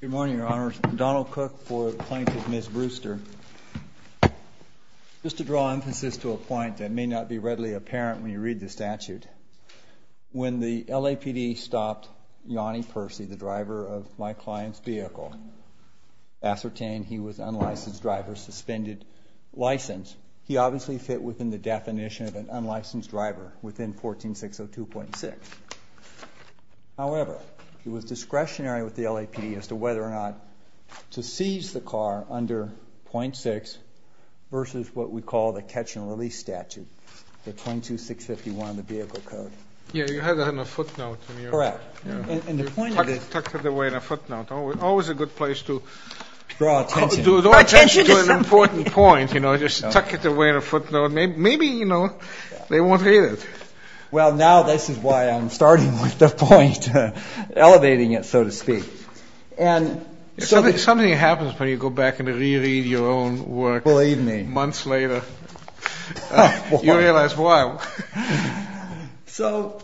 Good morning, Your Honors. I'm Donald Cook for the plaintiff, Ms. Brewster. Just to draw emphasis to a point that may not be readily apparent when you read the statute, when the LAPD stopped Yanni Percy, the driver of my client's vehicle, ascertained he was an unlicensed driver, suspended license. He obviously fit within the definition of an unlicensed driver within 14602.6. However, he was discretionary with the LAPD as to whether or not to seize the car under .6 versus what we call the catch-and-release statute, the 22651 of the Vehicle Code. Yeah, you had that on a footnote. Correct. And the point of it... Tucked it away in a footnote. Always a good place to... Draw attention. Draw attention to an important point, you know, just tuck it away in a footnote. Maybe, you know, they won't read it. Well, now this is why I'm starting with the point, elevating it, so to speak. Something happens when you go back and re-read your own work... Believe me. ...months later. You realize why. So,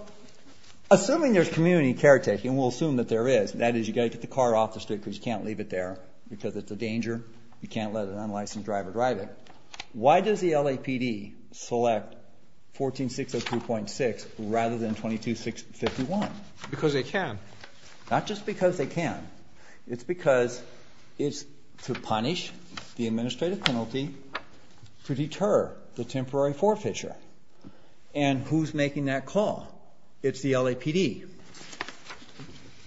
assuming there's community caretaking, and we'll assume that there is, that is, you've got to get the car off the street because you can't leave it there because it's a danger. You can't let an unlicensed driver drive it. Why does the LAPD select 14602.6 rather than 22651? Because they can. Not just because they can. It's because it's to punish the administrative penalty to deter the temporary forfeiture. And who's making that call? It's the LAPD.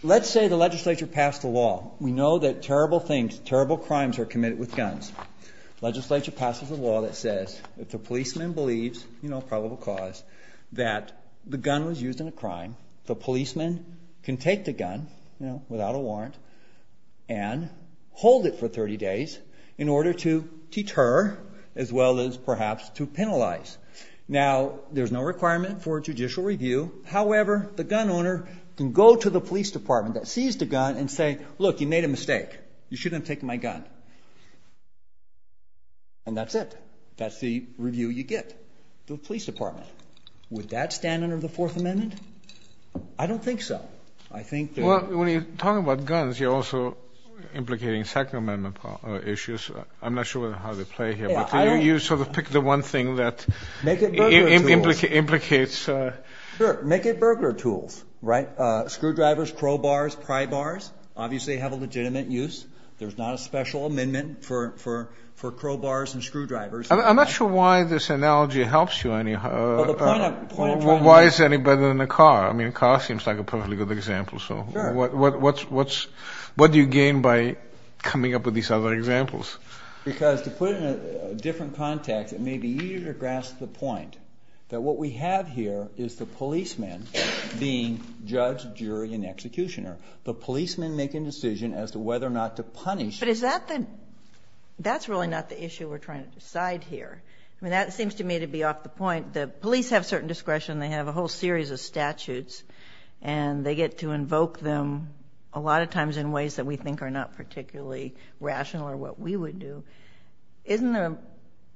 Let's say the legislature passed a law. We know that terrible things, terrible crimes are committed with guns. Legislature passes a law that says if the policeman believes, you know, probable cause, that the gun was used in a crime, the policeman can take the gun, you know, without a warrant, and hold it for 30 days in order to deter as well as perhaps to penalize. Now, there's no requirement for judicial review. However, the gun owner can go to the police department that seized the gun and say, look, you made a mistake. You shouldn't have taken my gun. And that's it. That's the review you get. The police department. Would that stand under the Fourth Amendment? I don't think so. I think that. Well, when you're talking about guns, you're also implicating Second Amendment issues. I'm not sure how they play here, but you sort of pick the one thing that implicates. Sure. Make it burglar tools. Right? Screwdrivers, crowbars, pry bars obviously have a legitimate use. There's not a special amendment for crowbars and screwdrivers. I'm not sure why this analogy helps you. Why is it any better than a car? I mean, a car seems like a perfectly good example. Sure. So what do you gain by coming up with these other examples? Because to put it in a different context, it may be easier to grasp the point that what we have here is the policeman being judge, jury, and executioner. The policeman making a decision as to whether or not to punish. But is that the – that's really not the issue we're trying to decide here. I mean, that seems to me to be off the point. The police have certain discretion. They have a whole series of statutes. And they get to invoke them a lot of times in ways that we think are not particularly rational or what we would do. Isn't there a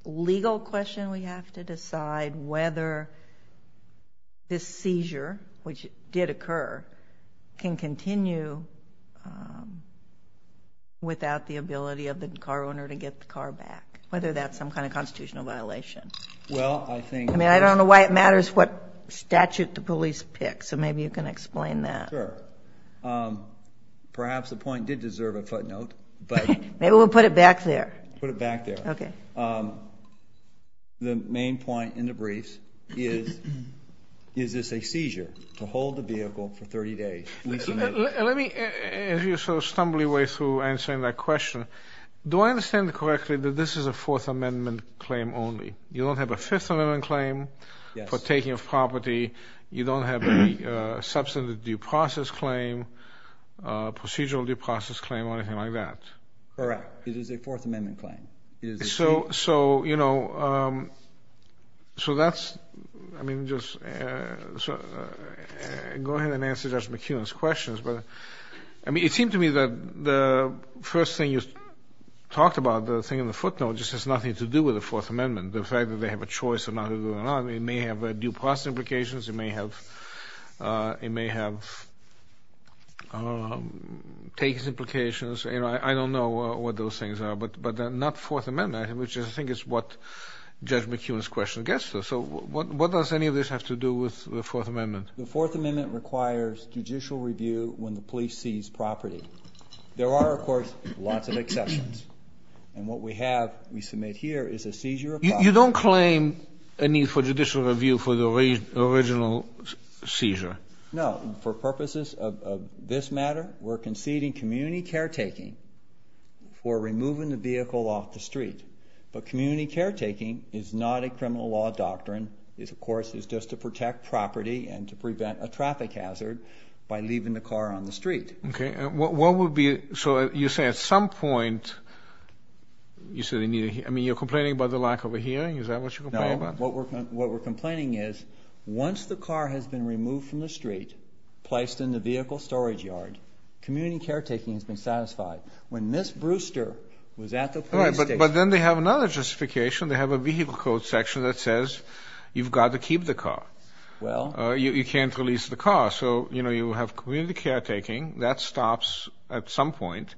legal question we have to decide whether this seizure, which did occur, can continue without the ability of the car owner to get the car back, whether that's some kind of constitutional violation? Well, I think – I mean, I don't know why it matters what statute the police pick. So maybe you can explain that. Sure. Perhaps the point did deserve a footnote. Maybe we'll put it back there. Put it back there. Okay. The main point in the briefs is, is this a seizure to hold the vehicle for 30 days? Let me, as you're sort of stumbling away through answering that question, do I understand correctly that this is a Fourth Amendment claim only? You don't have a Fifth Amendment claim for taking of property. You don't have a substantive due process claim, procedural due process claim, or anything like that? Correct. It is a Fourth Amendment claim. So, you know, so that's – I mean, just go ahead and answer Judge McKeon's questions. But, I mean, it seemed to me that the first thing you talked about, the thing in the footnote, just has nothing to do with the Fourth Amendment, the fact that they have a choice of not doing it or not. It may have due process implications. It may have takes implications. You know, I don't know what those things are. But not Fourth Amendment, which I think is what Judge McKeon's question gets to. So what does any of this have to do with the Fourth Amendment? The Fourth Amendment requires judicial review when the police seize property. There are, of course, lots of exceptions. And what we have, we submit here, is a seizure of property. You don't claim a need for judicial review for the original seizure? No. For purposes of this matter, we're conceding community caretaking for removing the vehicle off the street. But community caretaking is not a criminal law doctrine. It, of course, is just to protect property and to prevent a traffic hazard by leaving the car on the street. Okay. So you say at some point you're complaining about the lack of a hearing? Is that what you're complaining about? No. What we're complaining is once the car has been removed from the street, placed in the vehicle storage yard, community caretaking has been satisfied. When Ms. Brewster was at the police station. All right. But then they have another justification. They have a vehicle code section that says you've got to keep the car. Well. You can't release the car. So, you know, you have community caretaking. That stops at some point.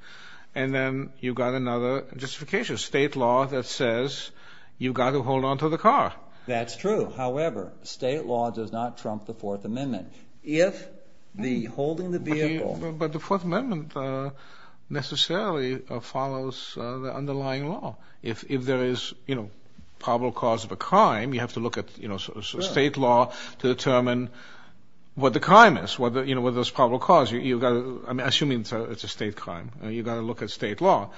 And then you've got another justification, state law, that says you've got to hold on to the car. That's true. However, state law does not trump the Fourth Amendment. If the holding the vehicle. But the Fourth Amendment necessarily follows the underlying law. If there is, you know, probable cause of a crime, you have to look at, you know, state law to determine what the crime is. You know, what the probable cause is. I'm assuming it's a state crime. You've got to look at state law.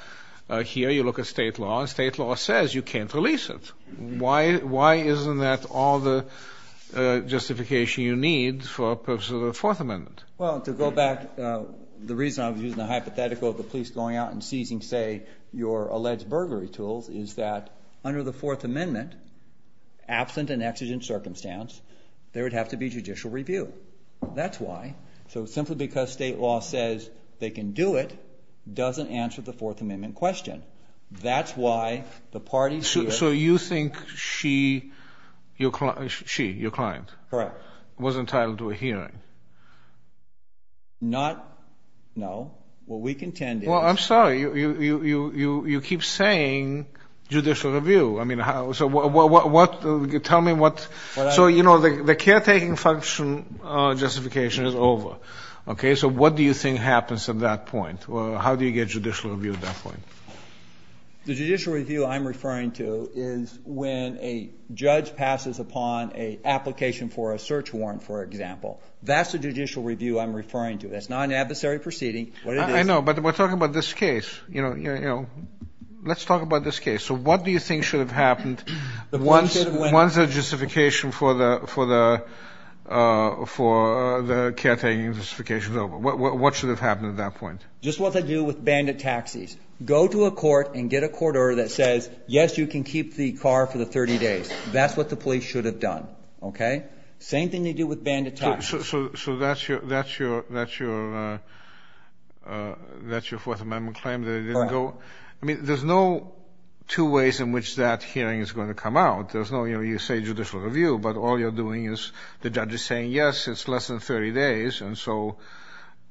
Here you look at state law. State law says you can't release it. Why isn't that all the justification you need for purposes of the Fourth Amendment? Well, to go back, the reason I was using the hypothetical of the police going out and seizing, say, your alleged burglary tools, is that under the Fourth Amendment, absent an exigent circumstance, there would have to be judicial review. That's why. So simply because state law says they can do it doesn't answer the Fourth Amendment question. That's why the parties here. So you think she, your client. Correct. Was entitled to a hearing. Not, no. What we contend is. Well, I'm sorry. You keep saying judicial review. I mean, so what, tell me what. So, you know, the caretaking function justification is over. Okay. So what do you think happens at that point? How do you get judicial review at that point? The judicial review I'm referring to is when a judge passes upon an application for a search warrant, for example. That's the judicial review I'm referring to. That's not an adversary proceeding. I know, but we're talking about this case. You know, let's talk about this case. So what do you think should have happened once the justification for the caretaking justification is over? What should have happened at that point? Just what they do with bandit taxis. Go to a court and get a court order that says, yes, you can keep the car for the 30 days. That's what the police should have done. Okay? Same thing they do with bandit taxis. So that's your Fourth Amendment claim that it didn't go? I mean, there's no two ways in which that hearing is going to come out. There's no, you know, you say judicial review, but all you're doing is the judge is saying, yes, it's less than 30 days. And so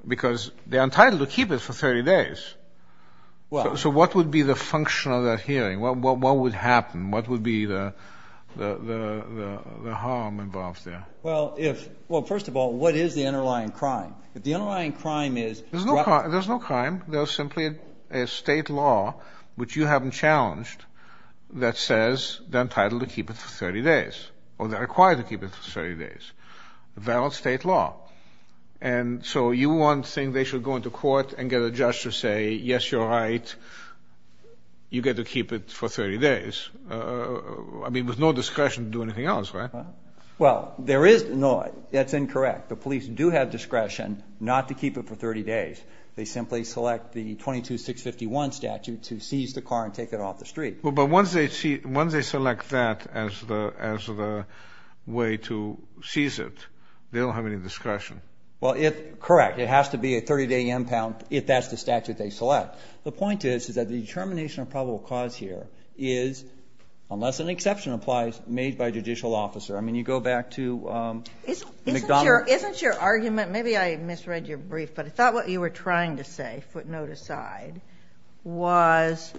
because they're entitled to keep it for 30 days. So what would be the function of that hearing? What would happen? What would be the harm involved there? Well, first of all, what is the underlying crime? The underlying crime is... There's no crime. There's simply a state law, which you haven't challenged, that says they're entitled to keep it for 30 days or they're required to keep it for 30 days. Valid state law. And so you want to think they should go into court and get a judge to say, yes, you're right, you get to keep it for 30 days. I mean, with no discretion to do anything else, right? Well, there is... No, that's incorrect. The police do have discretion not to keep it for 30 days. They simply select the 22651 statute to seize the car and take it off the street. But once they select that as the way to seize it, they don't have any discretion. Well, correct. It has to be a 30-day impound if that's the statute they select. The point is that the determination of probable cause here is, unless an exception applies, made by a judicial officer. I mean, you go back to McDonald... Isn't your argument, maybe I misread your brief, but I thought what you were trying to say, footnote aside, was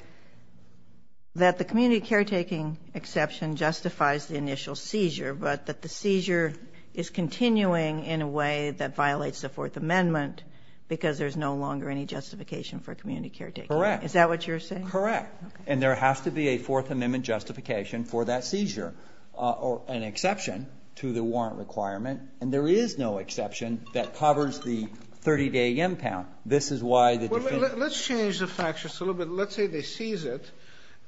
that the community caretaking exception justifies the initial seizure, but that the seizure is continuing in a way that violates the Fourth Amendment because there's no longer any justification for community caretaking. Correct. Is that what you're saying? Correct. And there has to be a Fourth Amendment justification for that seizure or an exception to the warrant requirement. And there is no exception that covers the 30-day impound. This is why the defendant... Well, let's change the fact just a little bit. Let's say they seize it,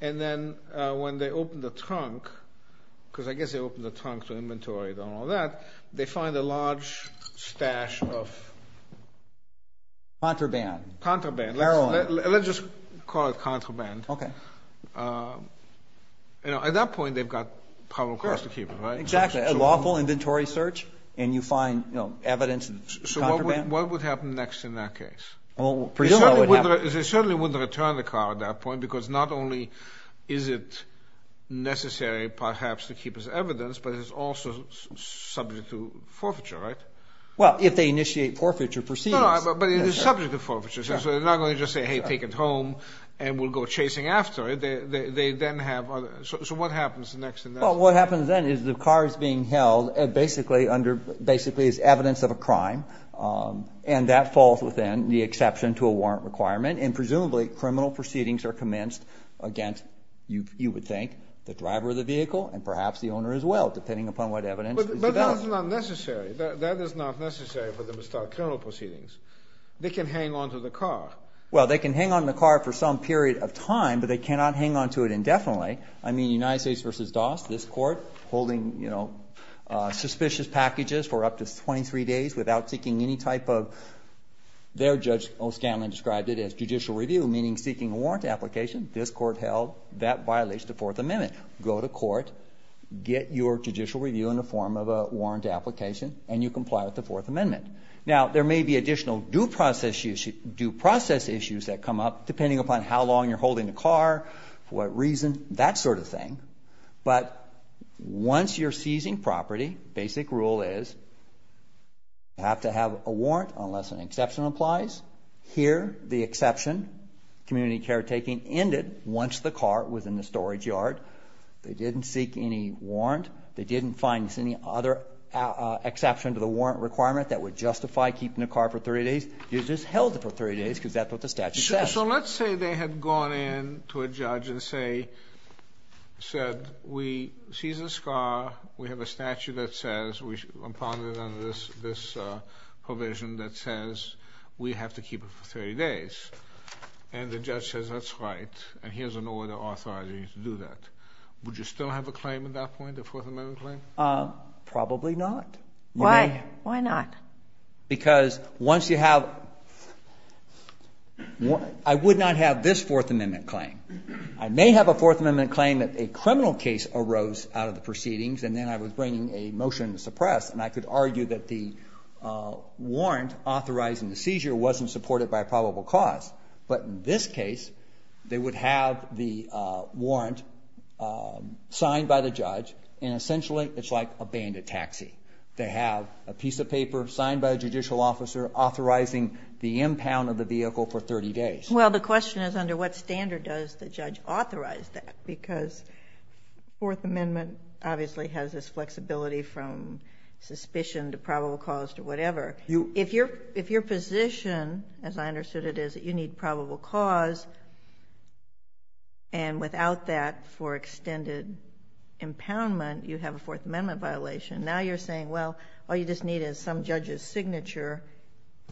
and then when they open the trunk, because I guess they open the trunk to inventory and all that, they find a large stash of... Contraband. Contraband. Marijuana. Let's just call it contraband. Okay. At that point, they've got probable cause to keep it, right? Exactly. A lawful inventory search, and you find evidence of contraband. So what would happen next in that case? Well, presumably... They certainly wouldn't return the car at that point because not only is it necessary perhaps to keep as evidence, but it is also subject to forfeiture, right? Well, if they initiate forfeiture proceedings. No, but it is subject to forfeiture. So they're not going to just say, hey, take it home, and we'll go chasing after it. They then have... So what happens next in that... Well, what happens then is the car is being held basically as evidence of a crime, and that falls within the exception to a warrant requirement, and presumably criminal proceedings are commenced against, you would think, the driver of the vehicle and perhaps the owner as well, depending upon what evidence is developed. But that is not necessary. That is not necessary for them to start criminal proceedings. They can hang on to the car. Well, they can hang on to the car for some period of time, but they cannot hang on to it indefinitely. I mean, United States v. Dawes, this court, holding, you know, suspicious packages for up to 23 days without seeking any type of... Their Judge O'Scanlan described it as judicial review, meaning seeking a warrant application. This court held that violates the Fourth Amendment. Go to court, get your judicial review in the form of a warrant application, and you comply with the Fourth Amendment. Now, there may be additional due process issues that come up, depending upon how long you're holding the car, what reason, that sort of thing. But once you're seizing property, basic rule is you have to have a warrant unless an exception applies. Here, the exception, community caretaking, ended once the car was in the storage yard. They didn't seek any warrant. They didn't find any other exception to the warrant requirement that would justify keeping the car for 30 days. You just held it for 30 days because that's what the statute says. So let's say they had gone in to a judge and said, we seized this car, we have a statute that says, impounded under this provision that says we have to keep it for 30 days. And the judge says, that's right, and here's an order authorizing you to do that. Would you still have a claim at that point, a Fourth Amendment claim? Probably not. Why? Why not? Because once you have, I would not have this Fourth Amendment claim. I may have a Fourth Amendment claim that a criminal case arose out of the proceedings, and then I was bringing a motion to suppress, and I could argue that the warrant authorizing the seizure wasn't supported by a probable cause. But in this case, they would have the warrant signed by the judge, and essentially it's like a bandit taxi. They have a piece of paper signed by a judicial officer authorizing the impound of the vehicle for 30 days. Well, the question is, under what standard does the judge authorize that? Because the Fourth Amendment obviously has this flexibility from suspicion to probable cause to whatever. If your position, as I understood it, is that you need probable cause, and without that for extended impoundment, you have a Fourth Amendment violation, now you're saying, well, all you just need is some judge's signature,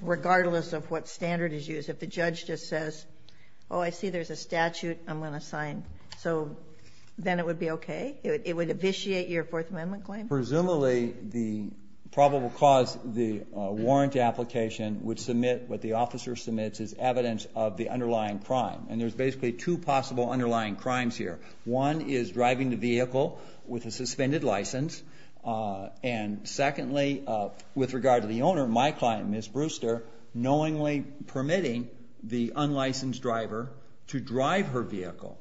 regardless of what standard is used. If the judge just says, oh, I see there's a statute I'm going to sign, so then it would be okay? It would vitiate your Fourth Amendment claim? Presumably the probable cause, the warrant application would submit what the officer submits as evidence of the underlying crime. And there's basically two possible underlying crimes here. One is driving the vehicle with a suspended license. And secondly, with regard to the owner, my client, Ms. Brewster, knowingly permitting the unlicensed driver to drive her vehicle.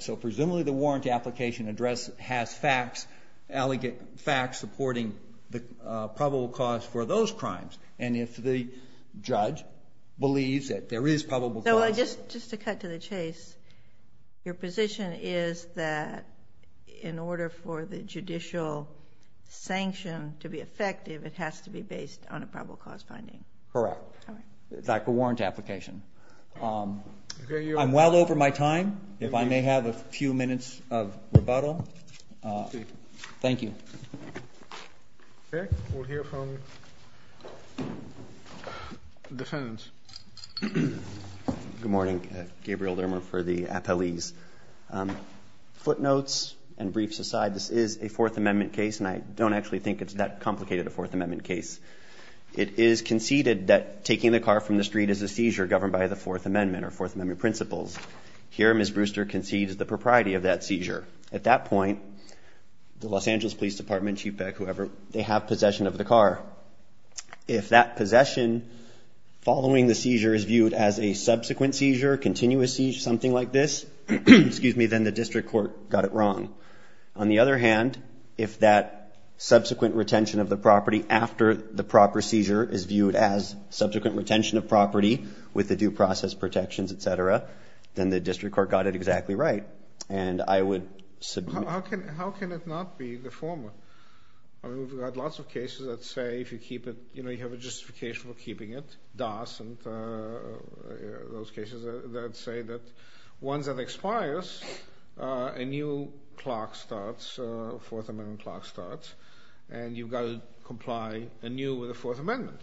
So presumably the warrant application address has facts, supporting the probable cause for those crimes. And if the judge believes that there is probable cause. So just to cut to the chase, your position is that in order for the judicial sanction to be effective, it has to be based on a probable cause finding? Correct. That's the warrant application. I'm well over my time. If I may have a few minutes of rebuttal. Thank you. Okay. We'll hear from the defendant. Good morning. Gabriel Dermer for the appellees. Footnotes and briefs aside, this is a Fourth Amendment case, and I don't actually think it's that complicated a Fourth Amendment case. It is conceded that taking the car from the street is a seizure governed by the Fourth Amendment or Fourth Amendment principles. Here, Ms. Brewster concedes the propriety of that seizure. At that point, the Los Angeles Police Department, CHPEC, whoever, they have possession of the car. If that possession following the seizure is viewed as a subsequent seizure, continuous seizure, something like this, then the district court got it wrong. On the other hand, if that subsequent retention of the property after the proper seizure is viewed as subsequent retention of property with the due process protections, et cetera, then the district court got it exactly right. And I would submit— How can it not be the former? I mean, we've had lots of cases that say if you keep it, you know, you have a justification for keeping it. DAS and those cases that say that once it expires, a new clock starts, a Fourth Amendment clock starts, and you've got to comply anew with the Fourth Amendment.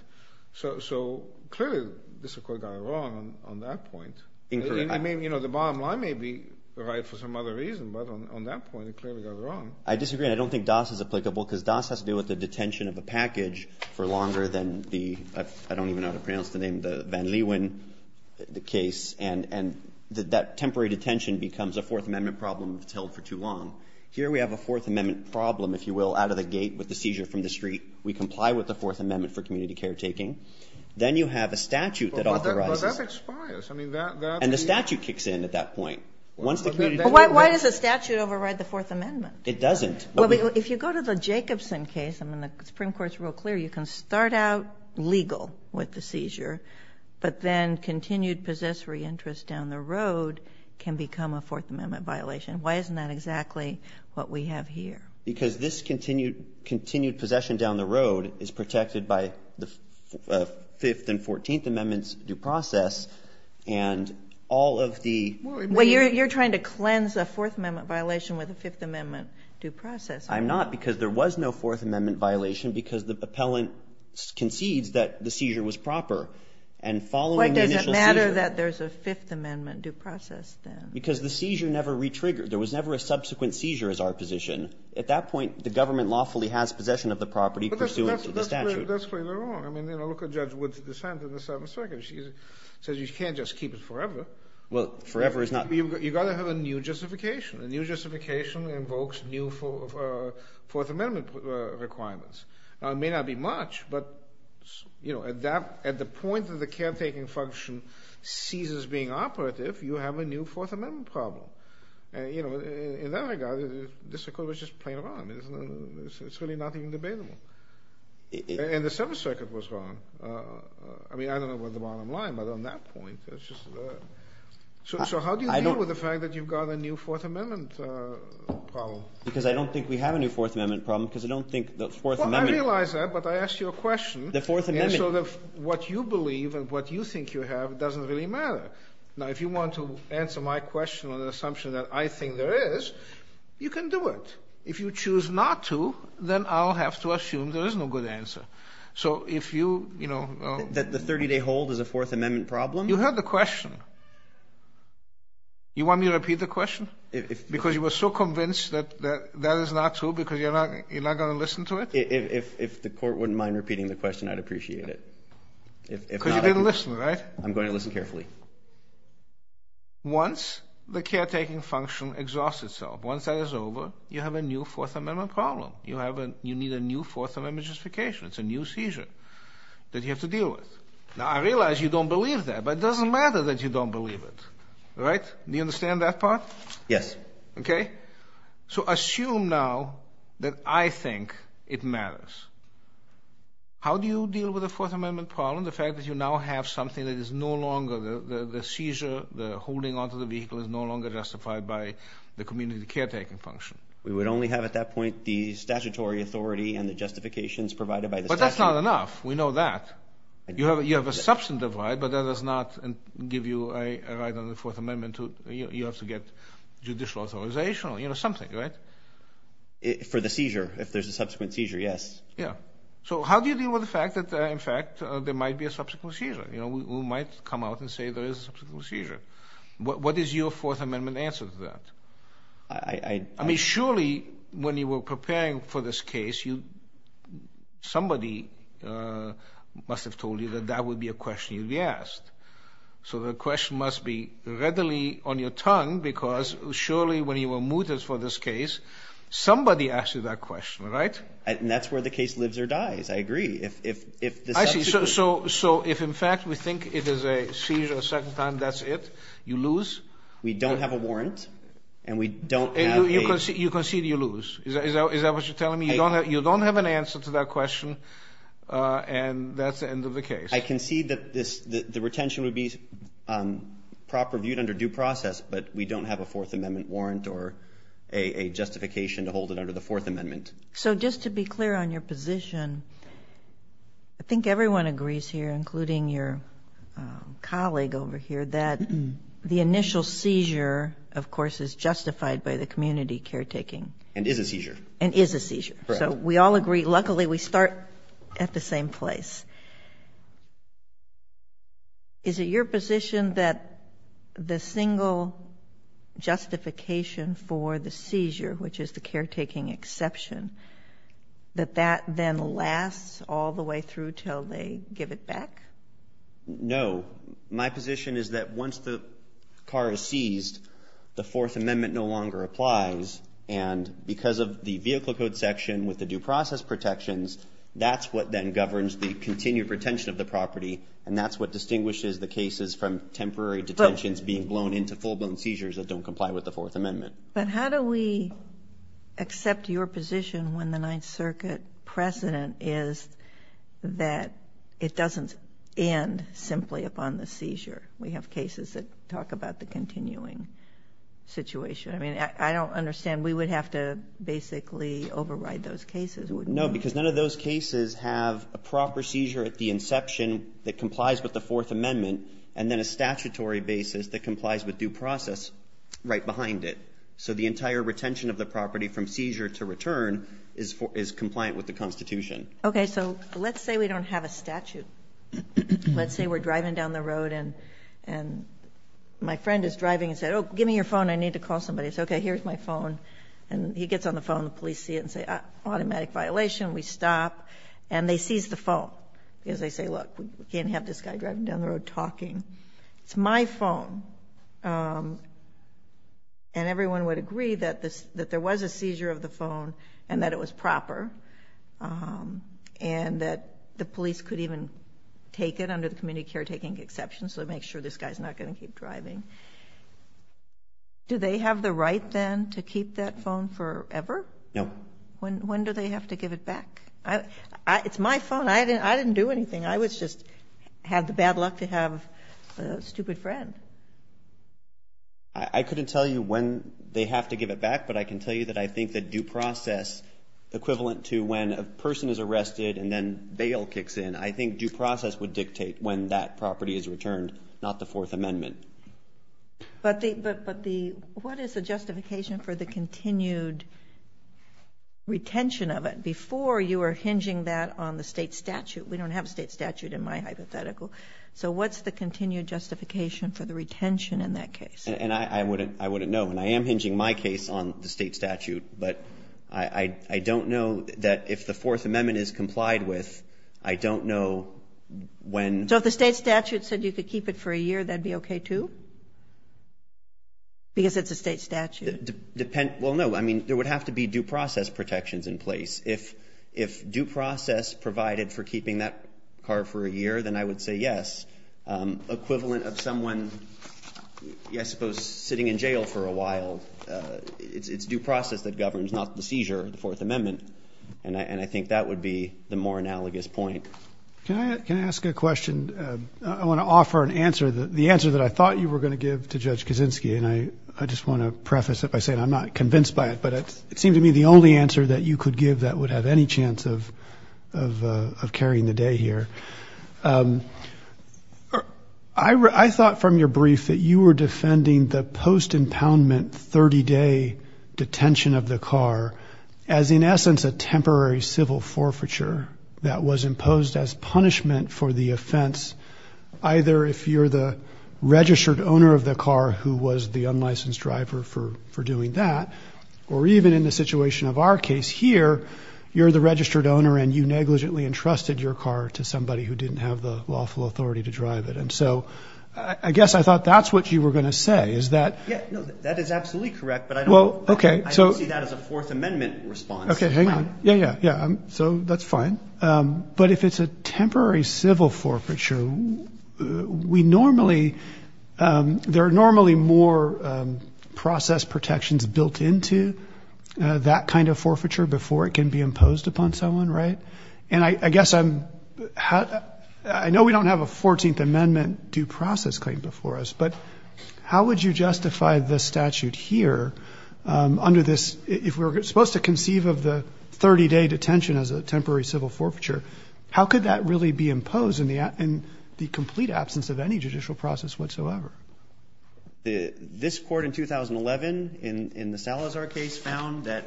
So clearly, the district court got it wrong on that point. Incorrect. I mean, you know, the bottom line may be right for some other reason, but on that point, it clearly got it wrong. I disagree, and I don't think DAS is applicable because DAS has to do with the detention of a package for longer than the—I don't even know how to pronounce the name—the Van Leeuwen case, and that temporary detention becomes a Fourth Amendment problem if it's held for too long. Here we have a Fourth Amendment problem, if you will, out of the gate with the seizure from the street. We comply with the Fourth Amendment for community caretaking. Then you have a statute that authorizes— But that expires. And the statute kicks in at that point. Why does the statute override the Fourth Amendment? It doesn't. If you go to the Jacobson case, I mean, the Supreme Court's real clear. You can start out legal with the seizure, but then continued possessory interest down the road can become a Fourth Amendment violation. Why isn't that exactly what we have here? Because this continued possession down the road is protected by the Fifth and Fourteenth Amendments due process, and all of the— Well, you're trying to cleanse a Fourth Amendment violation with a Fifth Amendment due process. I'm not because there was no Fourth Amendment violation because the appellant concedes that the seizure was proper. And following the initial seizure— Why does it matter that there's a Fifth Amendment due process then? Because the seizure never re-triggered. There was never a subsequent seizure as our position. At that point, the government lawfully has possession of the property pursuant to the statute. But that's clearly wrong. I mean, look at Judge Wood's dissent in the Seventh Circuit. She says you can't just keep it forever. Well, forever is not— You've got to have a new justification. A new justification invokes new Fourth Amendment requirements. Now, it may not be much, but at the point that the caretaking function ceases being operative, you have a new Fourth Amendment problem. In that regard, this court was just plain wrong. It's really nothing debatable. And the Seventh Circuit was wrong. I mean, I don't know about the bottom line, but on that point, it's just— So how do you deal with the fact that you've got a new Fourth Amendment problem? Because I don't think we have a new Fourth Amendment problem because I don't think the Fourth Amendment— Well, I realize that, but I asked you a question. The Fourth Amendment— And so what you believe and what you think you have doesn't really matter. Now, if you want to answer my question on the assumption that I think there is, you can do it. If you choose not to, then I'll have to assume there is no good answer. So if you, you know— That the 30-day hold is a Fourth Amendment problem? You heard the question. You want me to repeat the question? Because you were so convinced that that is not true because you're not going to listen to it? If the court wouldn't mind repeating the question, I'd appreciate it. Because you didn't listen, right? I'm going to listen carefully. Once the caretaking function exhausts itself, once that is over, you have a new Fourth Amendment problem. You need a new Fourth Amendment justification. It's a new seizure that you have to deal with. Now, I realize you don't believe that, but it doesn't matter that you don't believe it, right? Do you understand that part? Yes. Okay. So assume now that I think it matters. How do you deal with a Fourth Amendment problem, the fact that you now have something that is no longer— the seizure, the holding onto the vehicle is no longer justified by the community caretaking function? We would only have at that point the statutory authority and the justifications provided by the statute. But that's not enough. We know that. You have a substantive right, but that does not give you a right under the Fourth Amendment to— you have to get judicial authorization or something, right? For the seizure, if there's a subsequent seizure, yes. Yeah. So how do you deal with the fact that, in fact, there might be a subsequent seizure? We might come out and say there is a subsequent seizure. What is your Fourth Amendment answer to that? I mean, surely when you were preparing for this case, somebody must have told you that that would be a question you'd be asked. So the question must be readily on your tongue because surely when you were mooted for this case, somebody asked you that question, right? And that's where the case lives or dies. I agree. I see. So if, in fact, we think it is a seizure a second time, that's it? You lose? We don't have a warrant, and we don't have a— You concede you lose. Is that what you're telling me? You don't have an answer to that question, and that's the end of the case. I concede that the retention would be proper viewed under due process, but we don't have a Fourth Amendment warrant or a justification to hold it under the Fourth Amendment. So just to be clear on your position, I think everyone agrees here, including your colleague over here, that the initial seizure, of course, is justified by the community caretaking. And is a seizure. And is a seizure. Correct. So we all agree. Luckily, we start at the same place. Is it your position that the single justification for the seizure, which is the caretaking exception, that that then lasts all the way through until they give it back? No. My position is that once the car is seized, the Fourth Amendment no longer applies. And because of the vehicle code section with the due process protections, that's what then governs the continued retention of the property, and that's what distinguishes the cases from temporary detentions being blown into full-blown seizures that don't comply with the Fourth Amendment. But how do we accept your position when the Ninth Circuit precedent is that it doesn't end simply upon the seizure? We have cases that talk about the continuing situation. I mean, I don't understand. We would have to basically override those cases, wouldn't we? No, because none of those cases have a proper seizure at the inception that complies with the Fourth Amendment and then a statutory basis that complies with due process right behind it. So the entire retention of the property from seizure to return is compliant with the Constitution. Okay. So let's say we don't have a statute. Let's say we're driving down the road and my friend is driving and said, oh, give me your phone, I need to call somebody. I say, okay, here's my phone. And he gets on the phone, the police see it and say, automatic violation, we stop. And they seize the phone because they say, look, we can't have this guy driving down the road talking. It's my phone. And everyone would agree that there was a seizure of the phone and that it was proper and that the police could even take it under the community caretaking exception so they make sure this guy is not going to keep driving. Do they have the right then to keep that phone forever? No. When do they have to give it back? It's my phone. I didn't do anything. I just had the bad luck to have a stupid friend. I couldn't tell you when they have to give it back, but I can tell you that I think that due process, equivalent to when a person is arrested and then bail kicks in, I think due process would dictate when that property is returned, not the Fourth Amendment. But what is the justification for the continued retention of it? Before you were hinging that on the state statute. We don't have a state statute in my hypothetical. So what's the continued justification for the retention in that case? I wouldn't know. And I am hinging my case on the state statute, but I don't know that if the Fourth Amendment is complied with, I don't know when. So if the state statute said you could keep it for a year, that would be okay too? Because it's a state statute. Well, no. I mean, there would have to be due process protections in place. If due process provided for keeping that car for a year, then I would say yes. Equivalent of someone, I suppose, sitting in jail for a while, it's due process that governs, not the seizure of the Fourth Amendment. And I think that would be the more analogous point. Can I ask a question? I want to offer an answer, the answer that I thought you were going to give to Judge Kaczynski, and I just want to preface it by saying I'm not convinced by it, but it seemed to me the only answer that you could give that would have any chance of carrying the day here. I thought from your brief that you were defending the post-impoundment 30-day detention of the car as, in essence, a temporary civil forfeiture that was imposed as punishment for the offense, either if you're the registered owner of the car who was the unlicensed driver for doing that, or even in the situation of our case here, you're the registered owner and you negligently entrusted your car to somebody who didn't have the lawful authority to drive it. And so I guess I thought that's what you were going to say, is that – Okay, hang on. Yeah, yeah, yeah. So that's fine. But if it's a temporary civil forfeiture, we normally – there are normally more process protections built into that kind of forfeiture before it can be imposed upon someone, right? And I guess I'm – I know we don't have a 14th Amendment due process claim before us, but how would you justify the statute here under this – if we're supposed to conceive of the 30-day detention as a temporary civil forfeiture, how could that really be imposed in the complete absence of any judicial process whatsoever? This court in 2011 in the Salazar case found that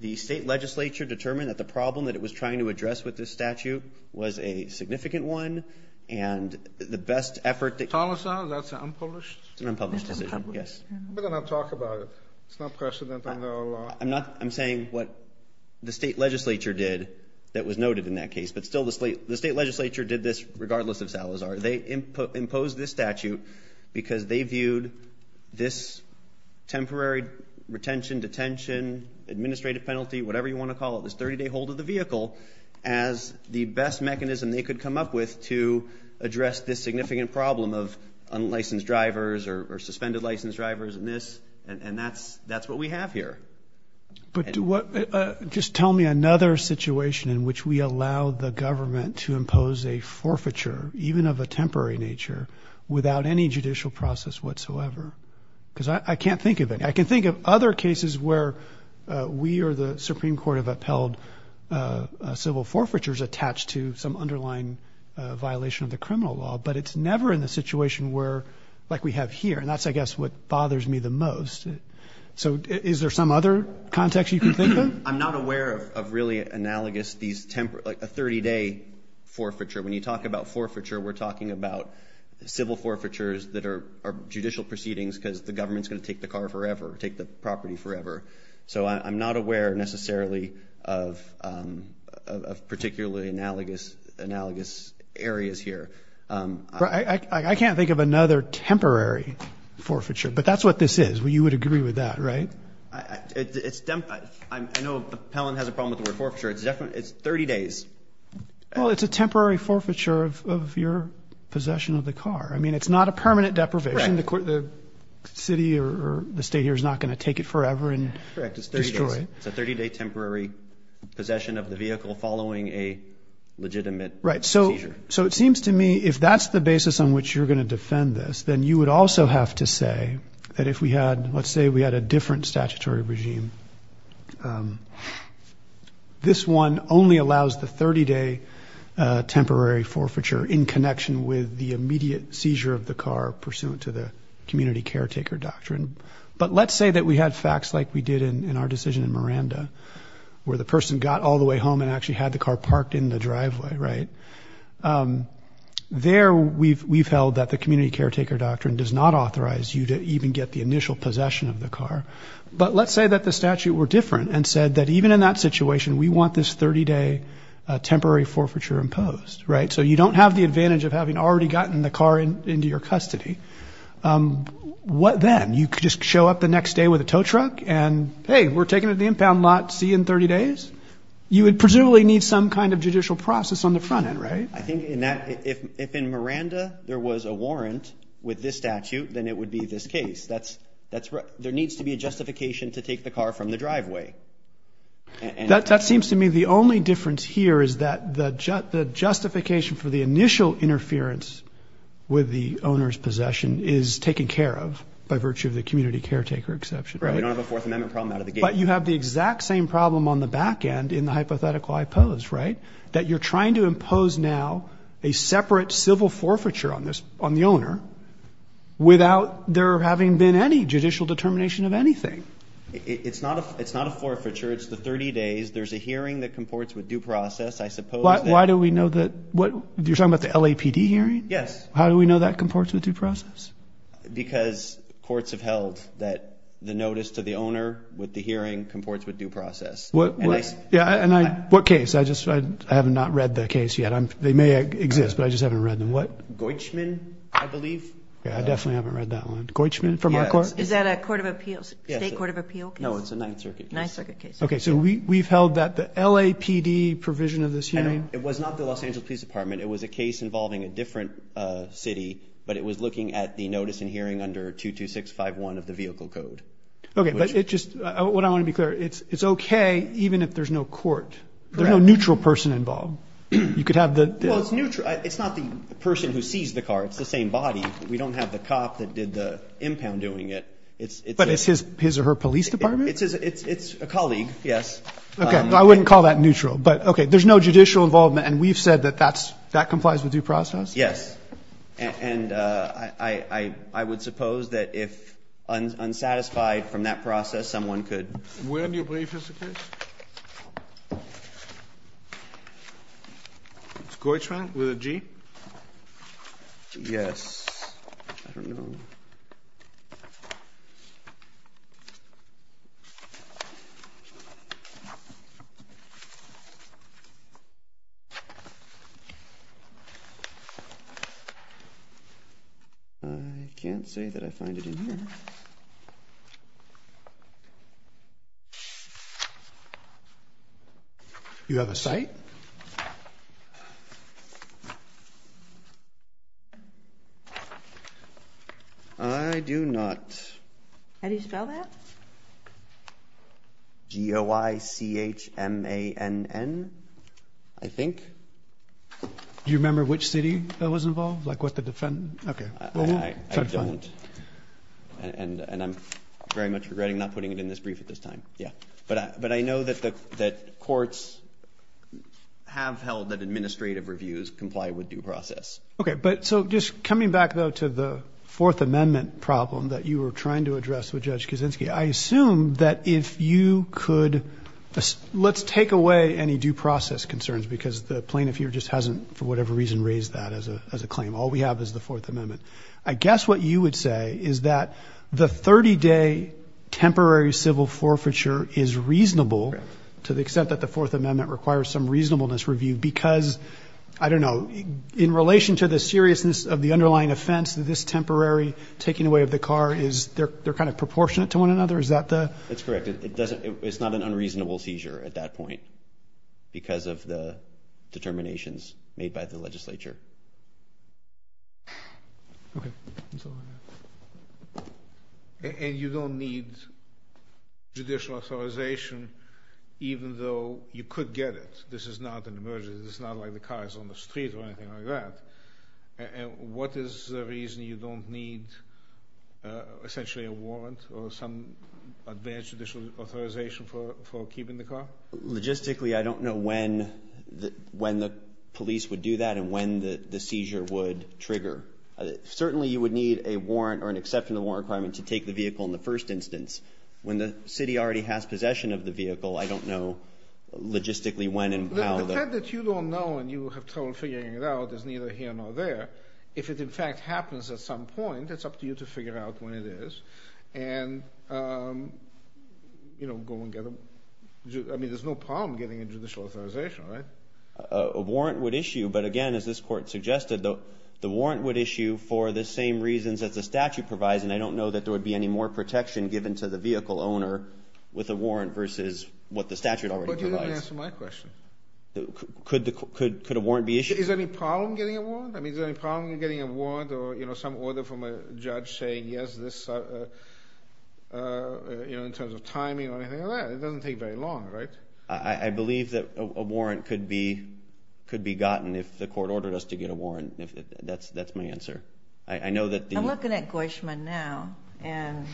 the state legislature determined that the problem that it was trying to address with this statute was a significant one, and the best effort that – Salazar, that's an unpublished – It's an unpublished decision, yes. We're going to talk about it. It's not precedent under our law. I'm not – I'm saying what the state legislature did that was noted in that case, but still the state legislature did this regardless of Salazar. They imposed this statute because they viewed this temporary retention, detention, administrative penalty, whatever you want to call it, this 30-day hold of the vehicle, as the best mechanism they could come up with to address this significant problem of unlicensed drivers or suspended licensed drivers and this, and that's what we have here. But do what – just tell me another situation in which we allow the government to impose a forfeiture, even of a temporary nature, without any judicial process whatsoever, because I can't think of any. I can think of other cases where we or the Supreme Court have upheld civil forfeitures attached to some underlying violation of the criminal law, but it's never in the situation where – like we have here, and that's, I guess, what bothers me the most. So is there some other context you can think of? I'm not aware of really analogous these – like a 30-day forfeiture. When you talk about forfeiture, we're talking about civil forfeitures that are judicial proceedings because the government's going to take the car forever, take the property forever. So I'm not aware necessarily of particularly analogous areas here. I can't think of another temporary forfeiture, but that's what this is. You would agree with that, right? It's – I know the appellant has a problem with the word forfeiture. It's 30 days. Well, it's a temporary forfeiture of your possession of the car. I mean, it's not a permanent deprivation. The city or the state here is not going to take it forever and destroy it. It's a 30-day temporary possession of the vehicle following a legitimate seizure. Right. So it seems to me if that's the basis on which you're going to defend this, then you would also have to say that if we had – let's say we had a different statutory regime, this one only allows the 30-day temporary forfeiture in connection with the immediate seizure of the car pursuant to the community caretaker doctrine. But let's say that we had facts like we did in our decision in Miranda, where the person got all the way home and actually had the car parked in the driveway, right? There we've held that the community caretaker doctrine does not authorize you to even get the initial possession of the car. But let's say that the statute were different and said that even in that situation, we want this 30-day temporary forfeiture imposed, right? So you don't have the advantage of having already gotten the car into your custody. What then? You could just show up the next day with a tow truck and, hey, we're taking it to the impound lot. See you in 30 days? You would presumably need some kind of judicial process on the front end, right? I think in that – if in Miranda there was a warrant with this statute, then it would be this case. That's – there needs to be a justification to take the car from the driveway. That seems to me the only difference here is that the justification for the initial interference with the owner's possession is taken care of by virtue of the community caretaker exception, right? We don't have a Fourth Amendment problem out of the gate. But you have the exact same problem on the back end in the hypothetical I pose, right, that you're trying to impose now a separate civil forfeiture on the owner without there having been any judicial determination of anything. It's not a forfeiture. It's the 30 days. There's a hearing that comports with due process. I suppose that – Why do we know that – you're talking about the LAPD hearing? Yes. How do we know that comports with due process? Because courts have held that the notice to the owner with the hearing comports with due process. And I – What case? I just – I have not read the case yet. They may exist, but I just haven't read them. What? Goichman, I believe. I definitely haven't read that one. Goichman from our court? Is that a court of appeals, state court of appeals case? No, it's a Ninth Circuit case. Ninth Circuit case. Okay, so we've held that the LAPD provision of this hearing – It was not the Los Angeles Police Department. It was a case involving a different city, but it was looking at the notice and hearing under 22651 of the vehicle code. Okay, but it just – what I want to be clear, it's okay even if there's no court. There's no neutral person involved. You could have the – Well, it's neutral. It's not the person who seized the car. It's the same body. We don't have the cop that did the impound doing it. But it's his or her police department? It's a colleague, yes. Okay. I wouldn't call that neutral. But, okay, there's no judicial involvement, and we've said that that complies with due process? Yes. And I would suppose that if unsatisfied from that process, someone could – Where in your brief is the case? It's Goichman with a G? Yes. I don't know. I can't say that I find it in here. You have a site? I do not. How do you spell that? G-O-I-C-H-M-A-N-N, I think. Do you remember which city that was involved? Like what the – okay. I don't. And I'm very much regretting not putting it in this brief at this time. Yeah. But I know that courts have held that administrative reviews comply with due process. Okay. But so just coming back, though, to the Fourth Amendment problem that you were trying to address with Judge Kuczynski, I assume that if you could – let's take away any due process concerns because the plaintiff here just hasn't, for whatever reason, raised that as a claim. All we have is the Fourth Amendment. I guess what you would say is that the 30-day temporary civil forfeiture is reasonable to the extent that the Fourth Amendment requires some reasonableness review because, I don't know, in relation to the seriousness of the underlying offense, this temporary taking away of the car is – they're kind of proportionate to one another? Is that the – That's correct. It's not an unreasonable seizure at that point because of the determinations made by the legislature. Okay. And you don't need judicial authorization even though you could get it. This is not an emergency. This is not like the car is on the street or anything like that. And what is the reason you don't need essentially a warrant or some advanced judicial authorization for keeping the car? Logistically, I don't know when the police would do that and when the seizure would trigger. Certainly you would need a warrant or an exception to the warrant requirement to take the vehicle in the first instance. When the city already has possession of the vehicle, I don't know logistically when and how the – The fact that you don't know and you have trouble figuring it out is neither here nor there. If it, in fact, happens at some point, it's up to you to figure out when it is and go and get them. I mean, there's no problem getting a judicial authorization, right? A warrant would issue, but again, as this court suggested, the warrant would issue for the same reasons as the statute provides, and I don't know that there would be any more protection given to the vehicle owner with a warrant versus what the statute already provides. But you didn't answer my question. Could a warrant be issued? Is there any problem getting a warrant? I mean, is there any problem getting a warrant or some order from a judge saying, yes, in terms of timing or anything like that? It doesn't take very long, right? I believe that a warrant could be gotten if the court ordered us to get a warrant. That's my answer. I'm looking at Goishman now, and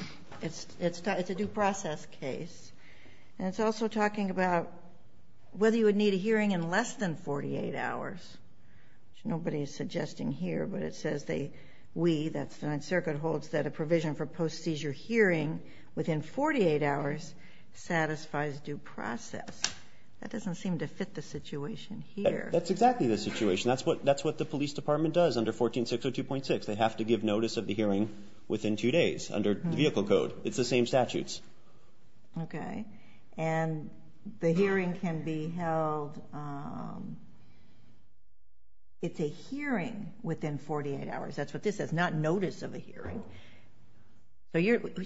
it's a due process case, and it's also talking about whether you would need a hearing in less than 48 hours. Nobody is suggesting here, but it says we, that's the Ninth Circuit, holds that a provision for post-seizure hearing within 48 hours satisfies due process. That doesn't seem to fit the situation here. That's exactly the situation. That's what the police department does under 14602.6. They have to give notice of the hearing within two days under the vehicle code. It's the same statutes. Okay. And the hearing can be held, it's a hearing within 48 hours. That's what this says, not notice of a hearing.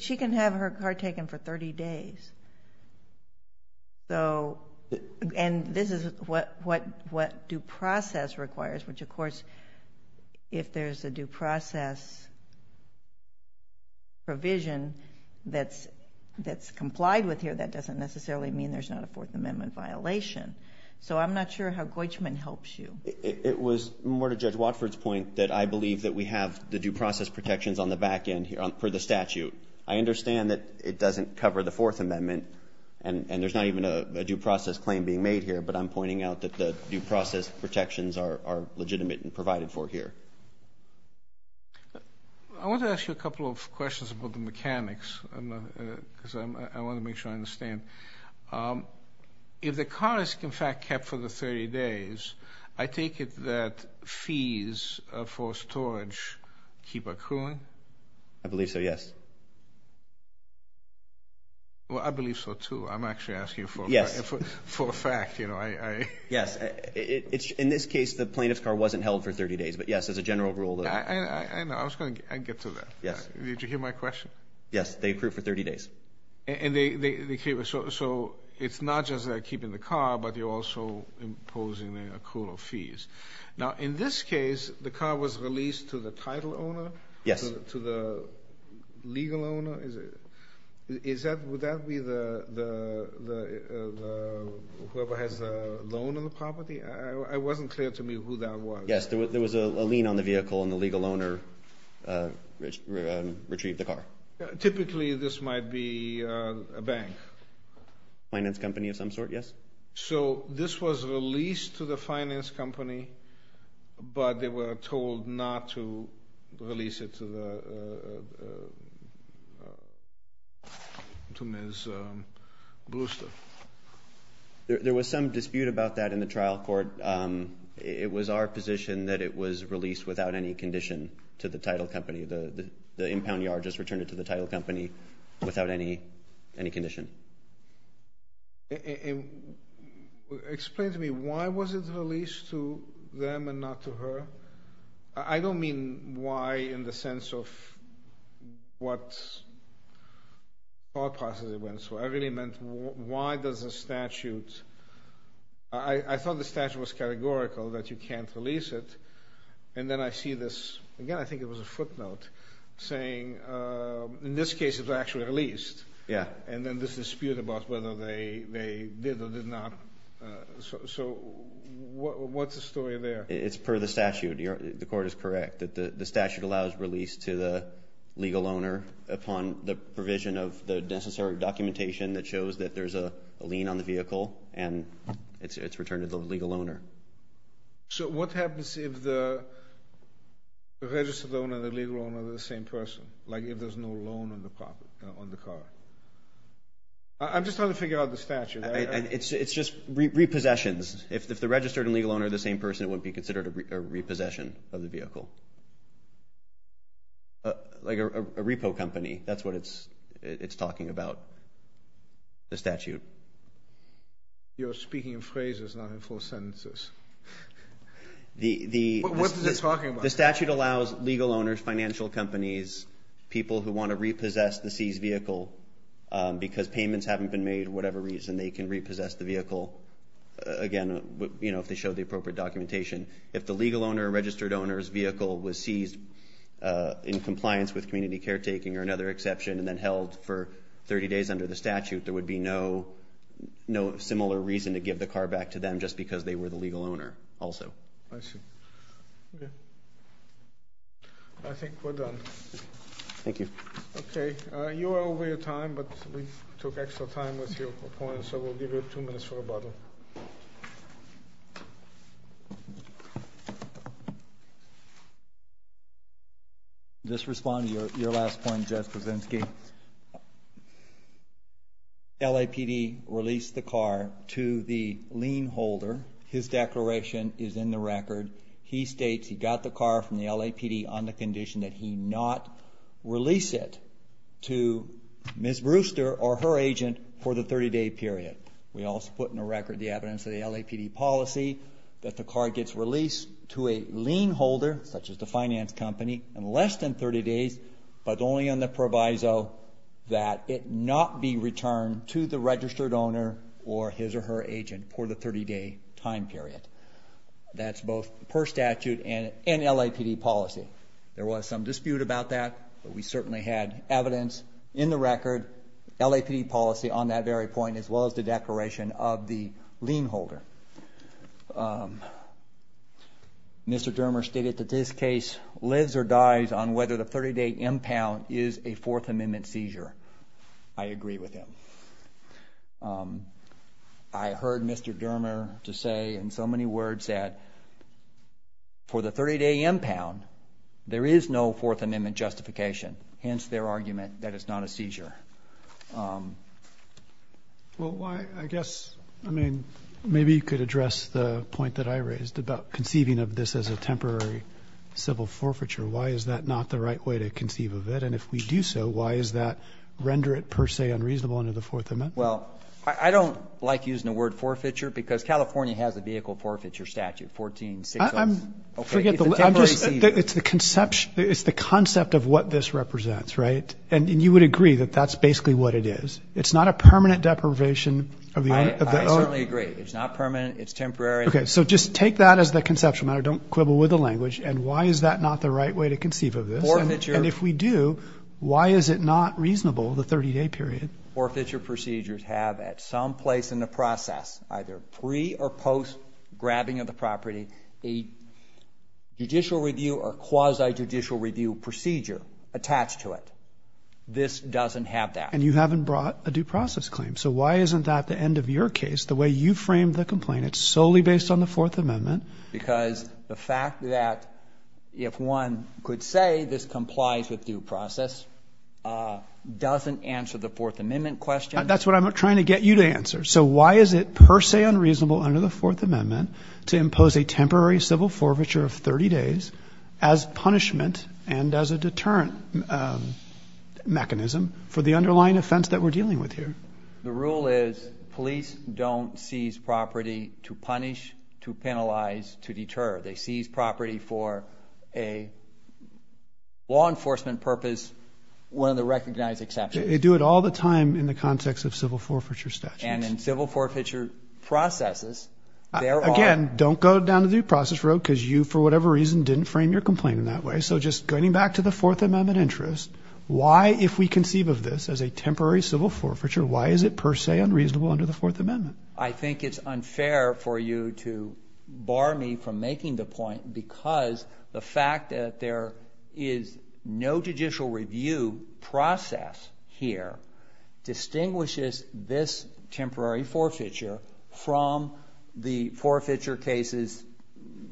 She can have her car taken for 30 days. And this is what due process requires, which, of course, if there's a due process provision that's complied with here, that doesn't necessarily mean there's not a Fourth Amendment violation. So I'm not sure how Goishman helps you. It was more to Judge Watford's point that I believe that we have the due process protections on the back end for the statute. I understand that it doesn't cover the Fourth Amendment, and there's not even a due process claim being made here, but I'm pointing out that the due process protections are legitimate and provided for here. I want to ask you a couple of questions about the mechanics because I want to make sure I understand. If the car is, in fact, kept for the 30 days, I take it that fees for storage keep accruing? I believe so, yes. Well, I believe so, too. I'm actually asking for a fact. Yes. In this case, the plaintiff's car wasn't held for 30 days, but, yes, there's a general rule. I know. I was going to get to that. Yes. Did you hear my question? Yes. They accrue for 30 days. So it's not just keeping the car, but you're also imposing an accrual of fees. Now, in this case, the car was released to the title owner? Yes. To the legal owner? Would that be whoever has the loan on the property? It wasn't clear to me who that was. Yes, there was a lien on the vehicle, and the legal owner retrieved the car. Typically, this might be a bank. A finance company of some sort, yes. So this was released to the finance company, but they were told not to release it to Ms. Bluster? There was some dispute about that in the trial court. It was our position that it was released without any condition to the title company. The impound yard just returned it to the title company without any condition. Explain to me, why was it released to them and not to her? I don't mean why in the sense of what thought process it went through. I really meant why does a statute—I thought the statute was categorical that you can't release it, and then I see this—again, I think it was a footnote—saying, in this case, it was actually released. And then there's a dispute about whether they did or did not. So what's the story there? It's per the statute. The court is correct. The statute allows release to the legal owner upon the provision of the necessary documentation that shows that there's a lien on the vehicle, and it's returned to the legal owner. So what happens if the registered owner and the legal owner are the same person, like if there's no loan on the car? I'm just trying to figure out the statute. It's just repossessions. If the registered and legal owner are the same person, it wouldn't be considered a repossession of the vehicle. Like a repo company, that's what it's talking about, the statute. You're speaking in phrases, not in full sentences. What is it talking about? The statute allows legal owners, financial companies, people who want to repossess the seized vehicle because payments haven't been made, whatever reason, they can repossess the vehicle, again, you know, if they show the appropriate documentation. If the legal owner or registered owner's vehicle was seized in compliance with community caretaking or another exception and then held for 30 days under the statute, there would be no similar reason to give the car back to them just because they were the legal owner also. I see. I think we're done. Thank you. Okay. You are over your time, but we took extra time with your opponent, so we'll give you two minutes for rebuttal. Thank you. Just respond to your last point, Jeff Kuczynski. LAPD released the car to the lien holder. His declaration is in the record. He states he got the car from the LAPD on the condition that he not release it to Ms. Brewster or her agent for the 30-day period. We also put in the record the evidence of the LAPD policy that the car gets released to a lien holder, such as the finance company, in less than 30 days, but only on the proviso that it not be returned to the registered owner or his or her agent for the 30-day time period. That's both per statute and LAPD policy. There was some dispute about that, but we certainly had evidence in the record, LAPD policy on that very point, as well as the declaration of the lien holder. Mr. Dermer stated that this case lives or dies on whether the 30-day impound is a Fourth Amendment seizure. I agree with him. I heard Mr. Dermer say in so many words that for the 30-day impound, there is no Fourth Amendment justification, hence their argument that it's not a seizure. Well, I guess, I mean, maybe you could address the point that I raised about conceiving of this as a temporary civil forfeiture. Why is that not the right way to conceive of it? And if we do so, why is that render it per se unreasonable under the Fourth Amendment? Well, I don't like using the word forfeiture because California has a vehicle forfeiture statute, 1460. It's the concept of what this represents, right? And you would agree that that's basically what it is. It's not a permanent deprivation of the owner. I certainly agree. It's not permanent. It's temporary. Okay, so just take that as the conceptual matter. Don't quibble with the language. And why is that not the right way to conceive of this? And if we do, why is it not reasonable, the 30-day period? Forfeiture procedures have at some place in the process, either pre- or post-grabbing of the property, a judicial review or quasi-judicial review procedure attached to it. This doesn't have that. And you haven't brought a due process claim. So why isn't that the end of your case, the way you framed the complaint? It's solely based on the Fourth Amendment. Because the fact that if one could say this complies with due process doesn't answer the Fourth Amendment question. That's what I'm trying to get you to answer. So why is it per se unreasonable under the Fourth Amendment to impose a temporary civil forfeiture of 30 days as punishment and as a deterrent mechanism for the underlying offense that we're dealing with here? The rule is police don't seize property to punish, to penalize, to deter. They seize property for a law enforcement purpose, one of the recognized exceptions. They do it all the time in the context of civil forfeiture statutes. And in civil forfeiture processes, there are. Again, don't go down the due process road because you for whatever reason didn't frame your complaint in that way. So just going back to the Fourth Amendment interest, why if we conceive of this as a temporary civil forfeiture, why is it per se unreasonable under the Fourth Amendment? I think it's unfair for you to bar me from making the point because the fact that there is no judicial review process here distinguishes this temporary forfeiture from the forfeiture cases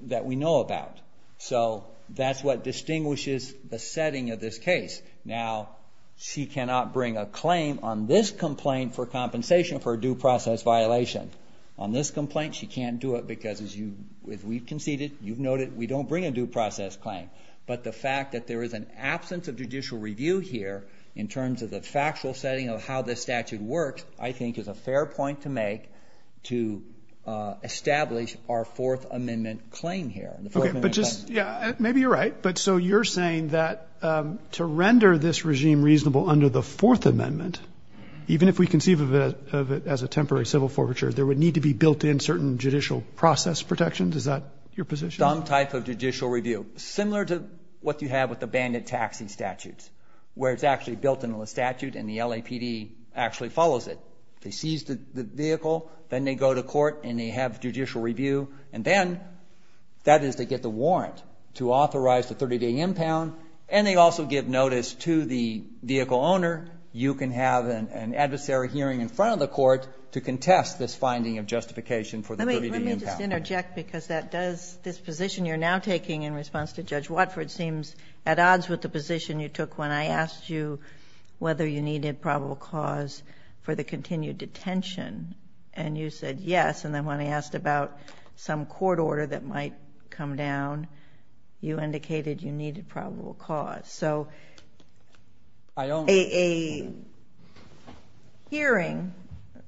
that we know about. So that's what distinguishes the setting of this case. Now, she cannot bring a claim on this complaint for compensation for a due process violation. On this complaint, she can't do it because as we've conceded, you've noted, we don't bring a due process claim. But the fact that there is an absence of judicial review here in terms of the factual setting of how this statute works, I think is a fair point to make to establish our Fourth Amendment claim here. Okay, but just maybe you're right. But so you're saying that to render this regime reasonable under the Fourth Amendment, even if we conceive of it as a temporary civil forfeiture, there would need to be built-in certain judicial process protections? Is that your position? Some type of judicial review. Similar to what you have with the bandit taxi statutes where it's actually built into the statute and the LAPD actually follows it. They seize the vehicle, then they go to court, and they have judicial review, and then that is to get the warrant to authorize the 30-day impound, and they also give notice to the vehicle owner, you can have an adversary hearing in front of the court to contest this finding of justification for the 30-day impound. Let me just interject because that does, this position you're now taking in response to Judge Watford seems at odds with the position you took when I asked you whether you needed probable cause for the continued detention, and you said yes, and then when I asked about some court order that might come down, you indicated you needed probable cause. So a hearing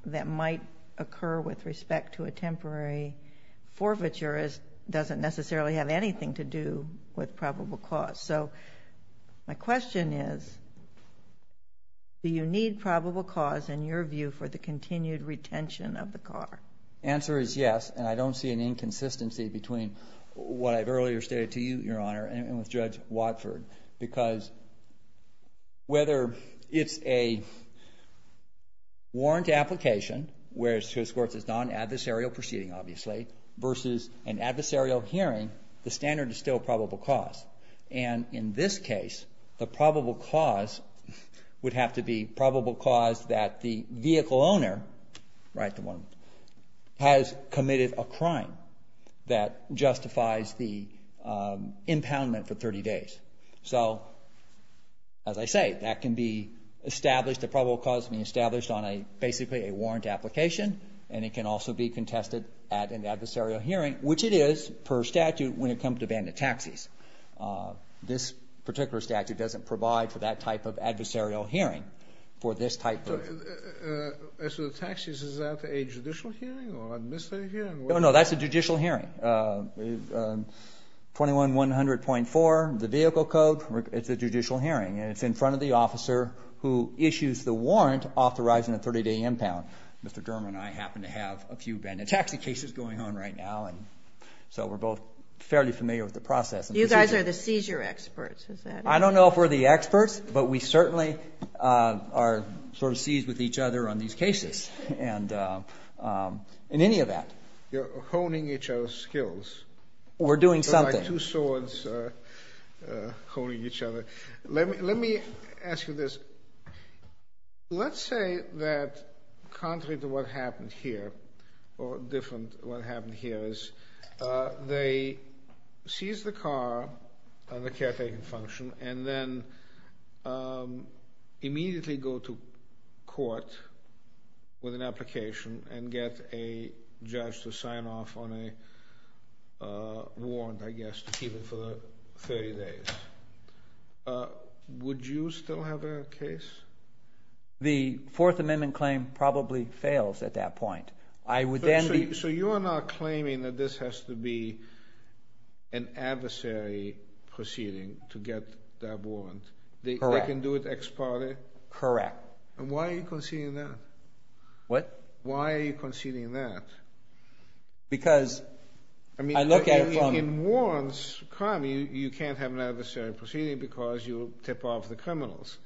that might occur with respect to a temporary forfeiture doesn't necessarily have anything to do with probable cause. So my question is do you need probable cause, in your view, for the continued retention of the car? The answer is yes, and I don't see an inconsistency between what I've earlier stated to you, Your Honor, and with Judge Watford, because whether it's a warrant application, where it escorts a non-adversarial proceeding, obviously, versus an adversarial hearing, the standard is still probable cause. And in this case, the probable cause would have to be probable cause that the vehicle owner has committed a crime that justifies the impoundment for 30 days. So, as I say, that can be established. The probable cause can be established on basically a warrant application, and it can also be contested at an adversarial hearing, which it is per statute when it comes to abandoned taxis. This particular statute doesn't provide for that type of adversarial hearing, for this type of... As for the taxis, is that a judicial hearing or administrative hearing? No, that's a judicial hearing. 21-100.4, the vehicle code, it's a judicial hearing, and it's in front of the officer who issues the warrant authorizing a 30-day impound. Mr. Durham and I happen to have a few abandoned taxi cases going on right now, and so we're both fairly familiar with the process. You guys are the seizure experts, is that it? I don't know if we're the experts, but we certainly are sort of seized with each other on these cases and any of that. You're honing each other's skills. We're doing something. You're like two swords honing each other. Let me ask you this. Let's say that contrary to what happened here, or different to what happened here, they seize the car on the caretaking function and then immediately go to court with an application and get a judge to sign off on a warrant, I guess, to keep it for 30 days. Would you still have a case? The Fourth Amendment claim probably fails at that point. So you are not claiming that this has to be an adversary proceeding to get that warrant. Correct. They can do it ex parte? Correct. Why are you conceding that? What? Why are you conceding that? Because I look at it from… In warrants, you can't have an adversary proceeding because you tip off the criminals.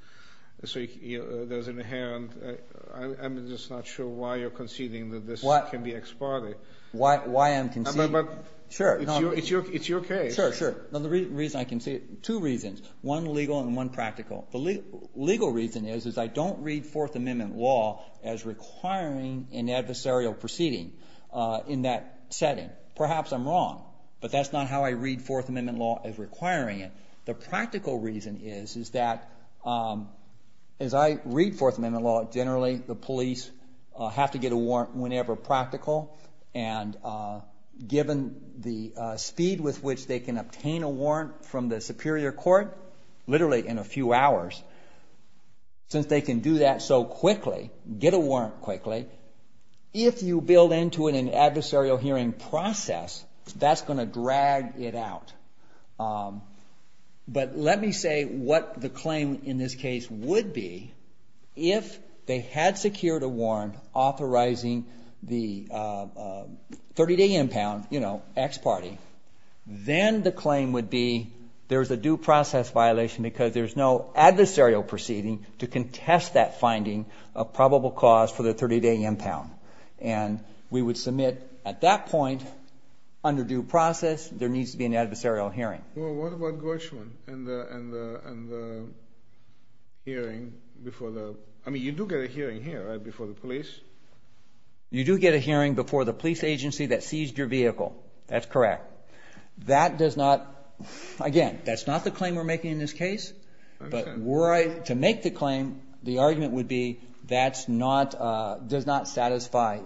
So there's an inherent… I'm just not sure why you're conceding that this can be ex parte. Why I'm conceding… It's your case. Sure, sure. Two reasons. One legal and one practical. The legal reason is I don't read Fourth Amendment law as requiring an adversarial proceeding in that setting. Perhaps I'm wrong, but that's not how I read Fourth Amendment law as requiring it. The practical reason is that as I read Fourth Amendment law, generally the police have to get a warrant whenever practical, and given the speed with which they can obtain a warrant from the superior court, literally in a few hours, since they can do that so quickly, get a warrant quickly, if you build into it an adversarial hearing process, that's going to drag it out. But let me say what the claim in this case would be If they had secured a warrant authorizing the 30-day impound, you know, ex parte, then the claim would be there's a due process violation because there's no adversarial proceeding to contest that finding of probable cause for the 30-day impound. And we would submit at that point, under due process, there needs to be an adversarial hearing. Well, what about Gershwin and the hearing before the... I mean, you do get a hearing here, right, before the police? You do get a hearing before the police agency that seized your vehicle. That's correct. That does not... Again, that's not the claim we're making in this case, but to make the claim, the argument would be that does not satisfy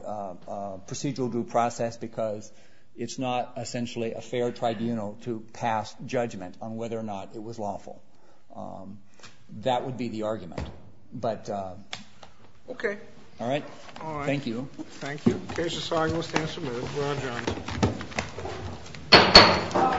procedural due process because it's not essentially a fair tribunal to pass judgment on whether or not it was lawful. That would be the argument. But... Okay. All right? All right. Thank you. Thank you. Case is signed. We'll stand submitted. We're adjourned. All rise.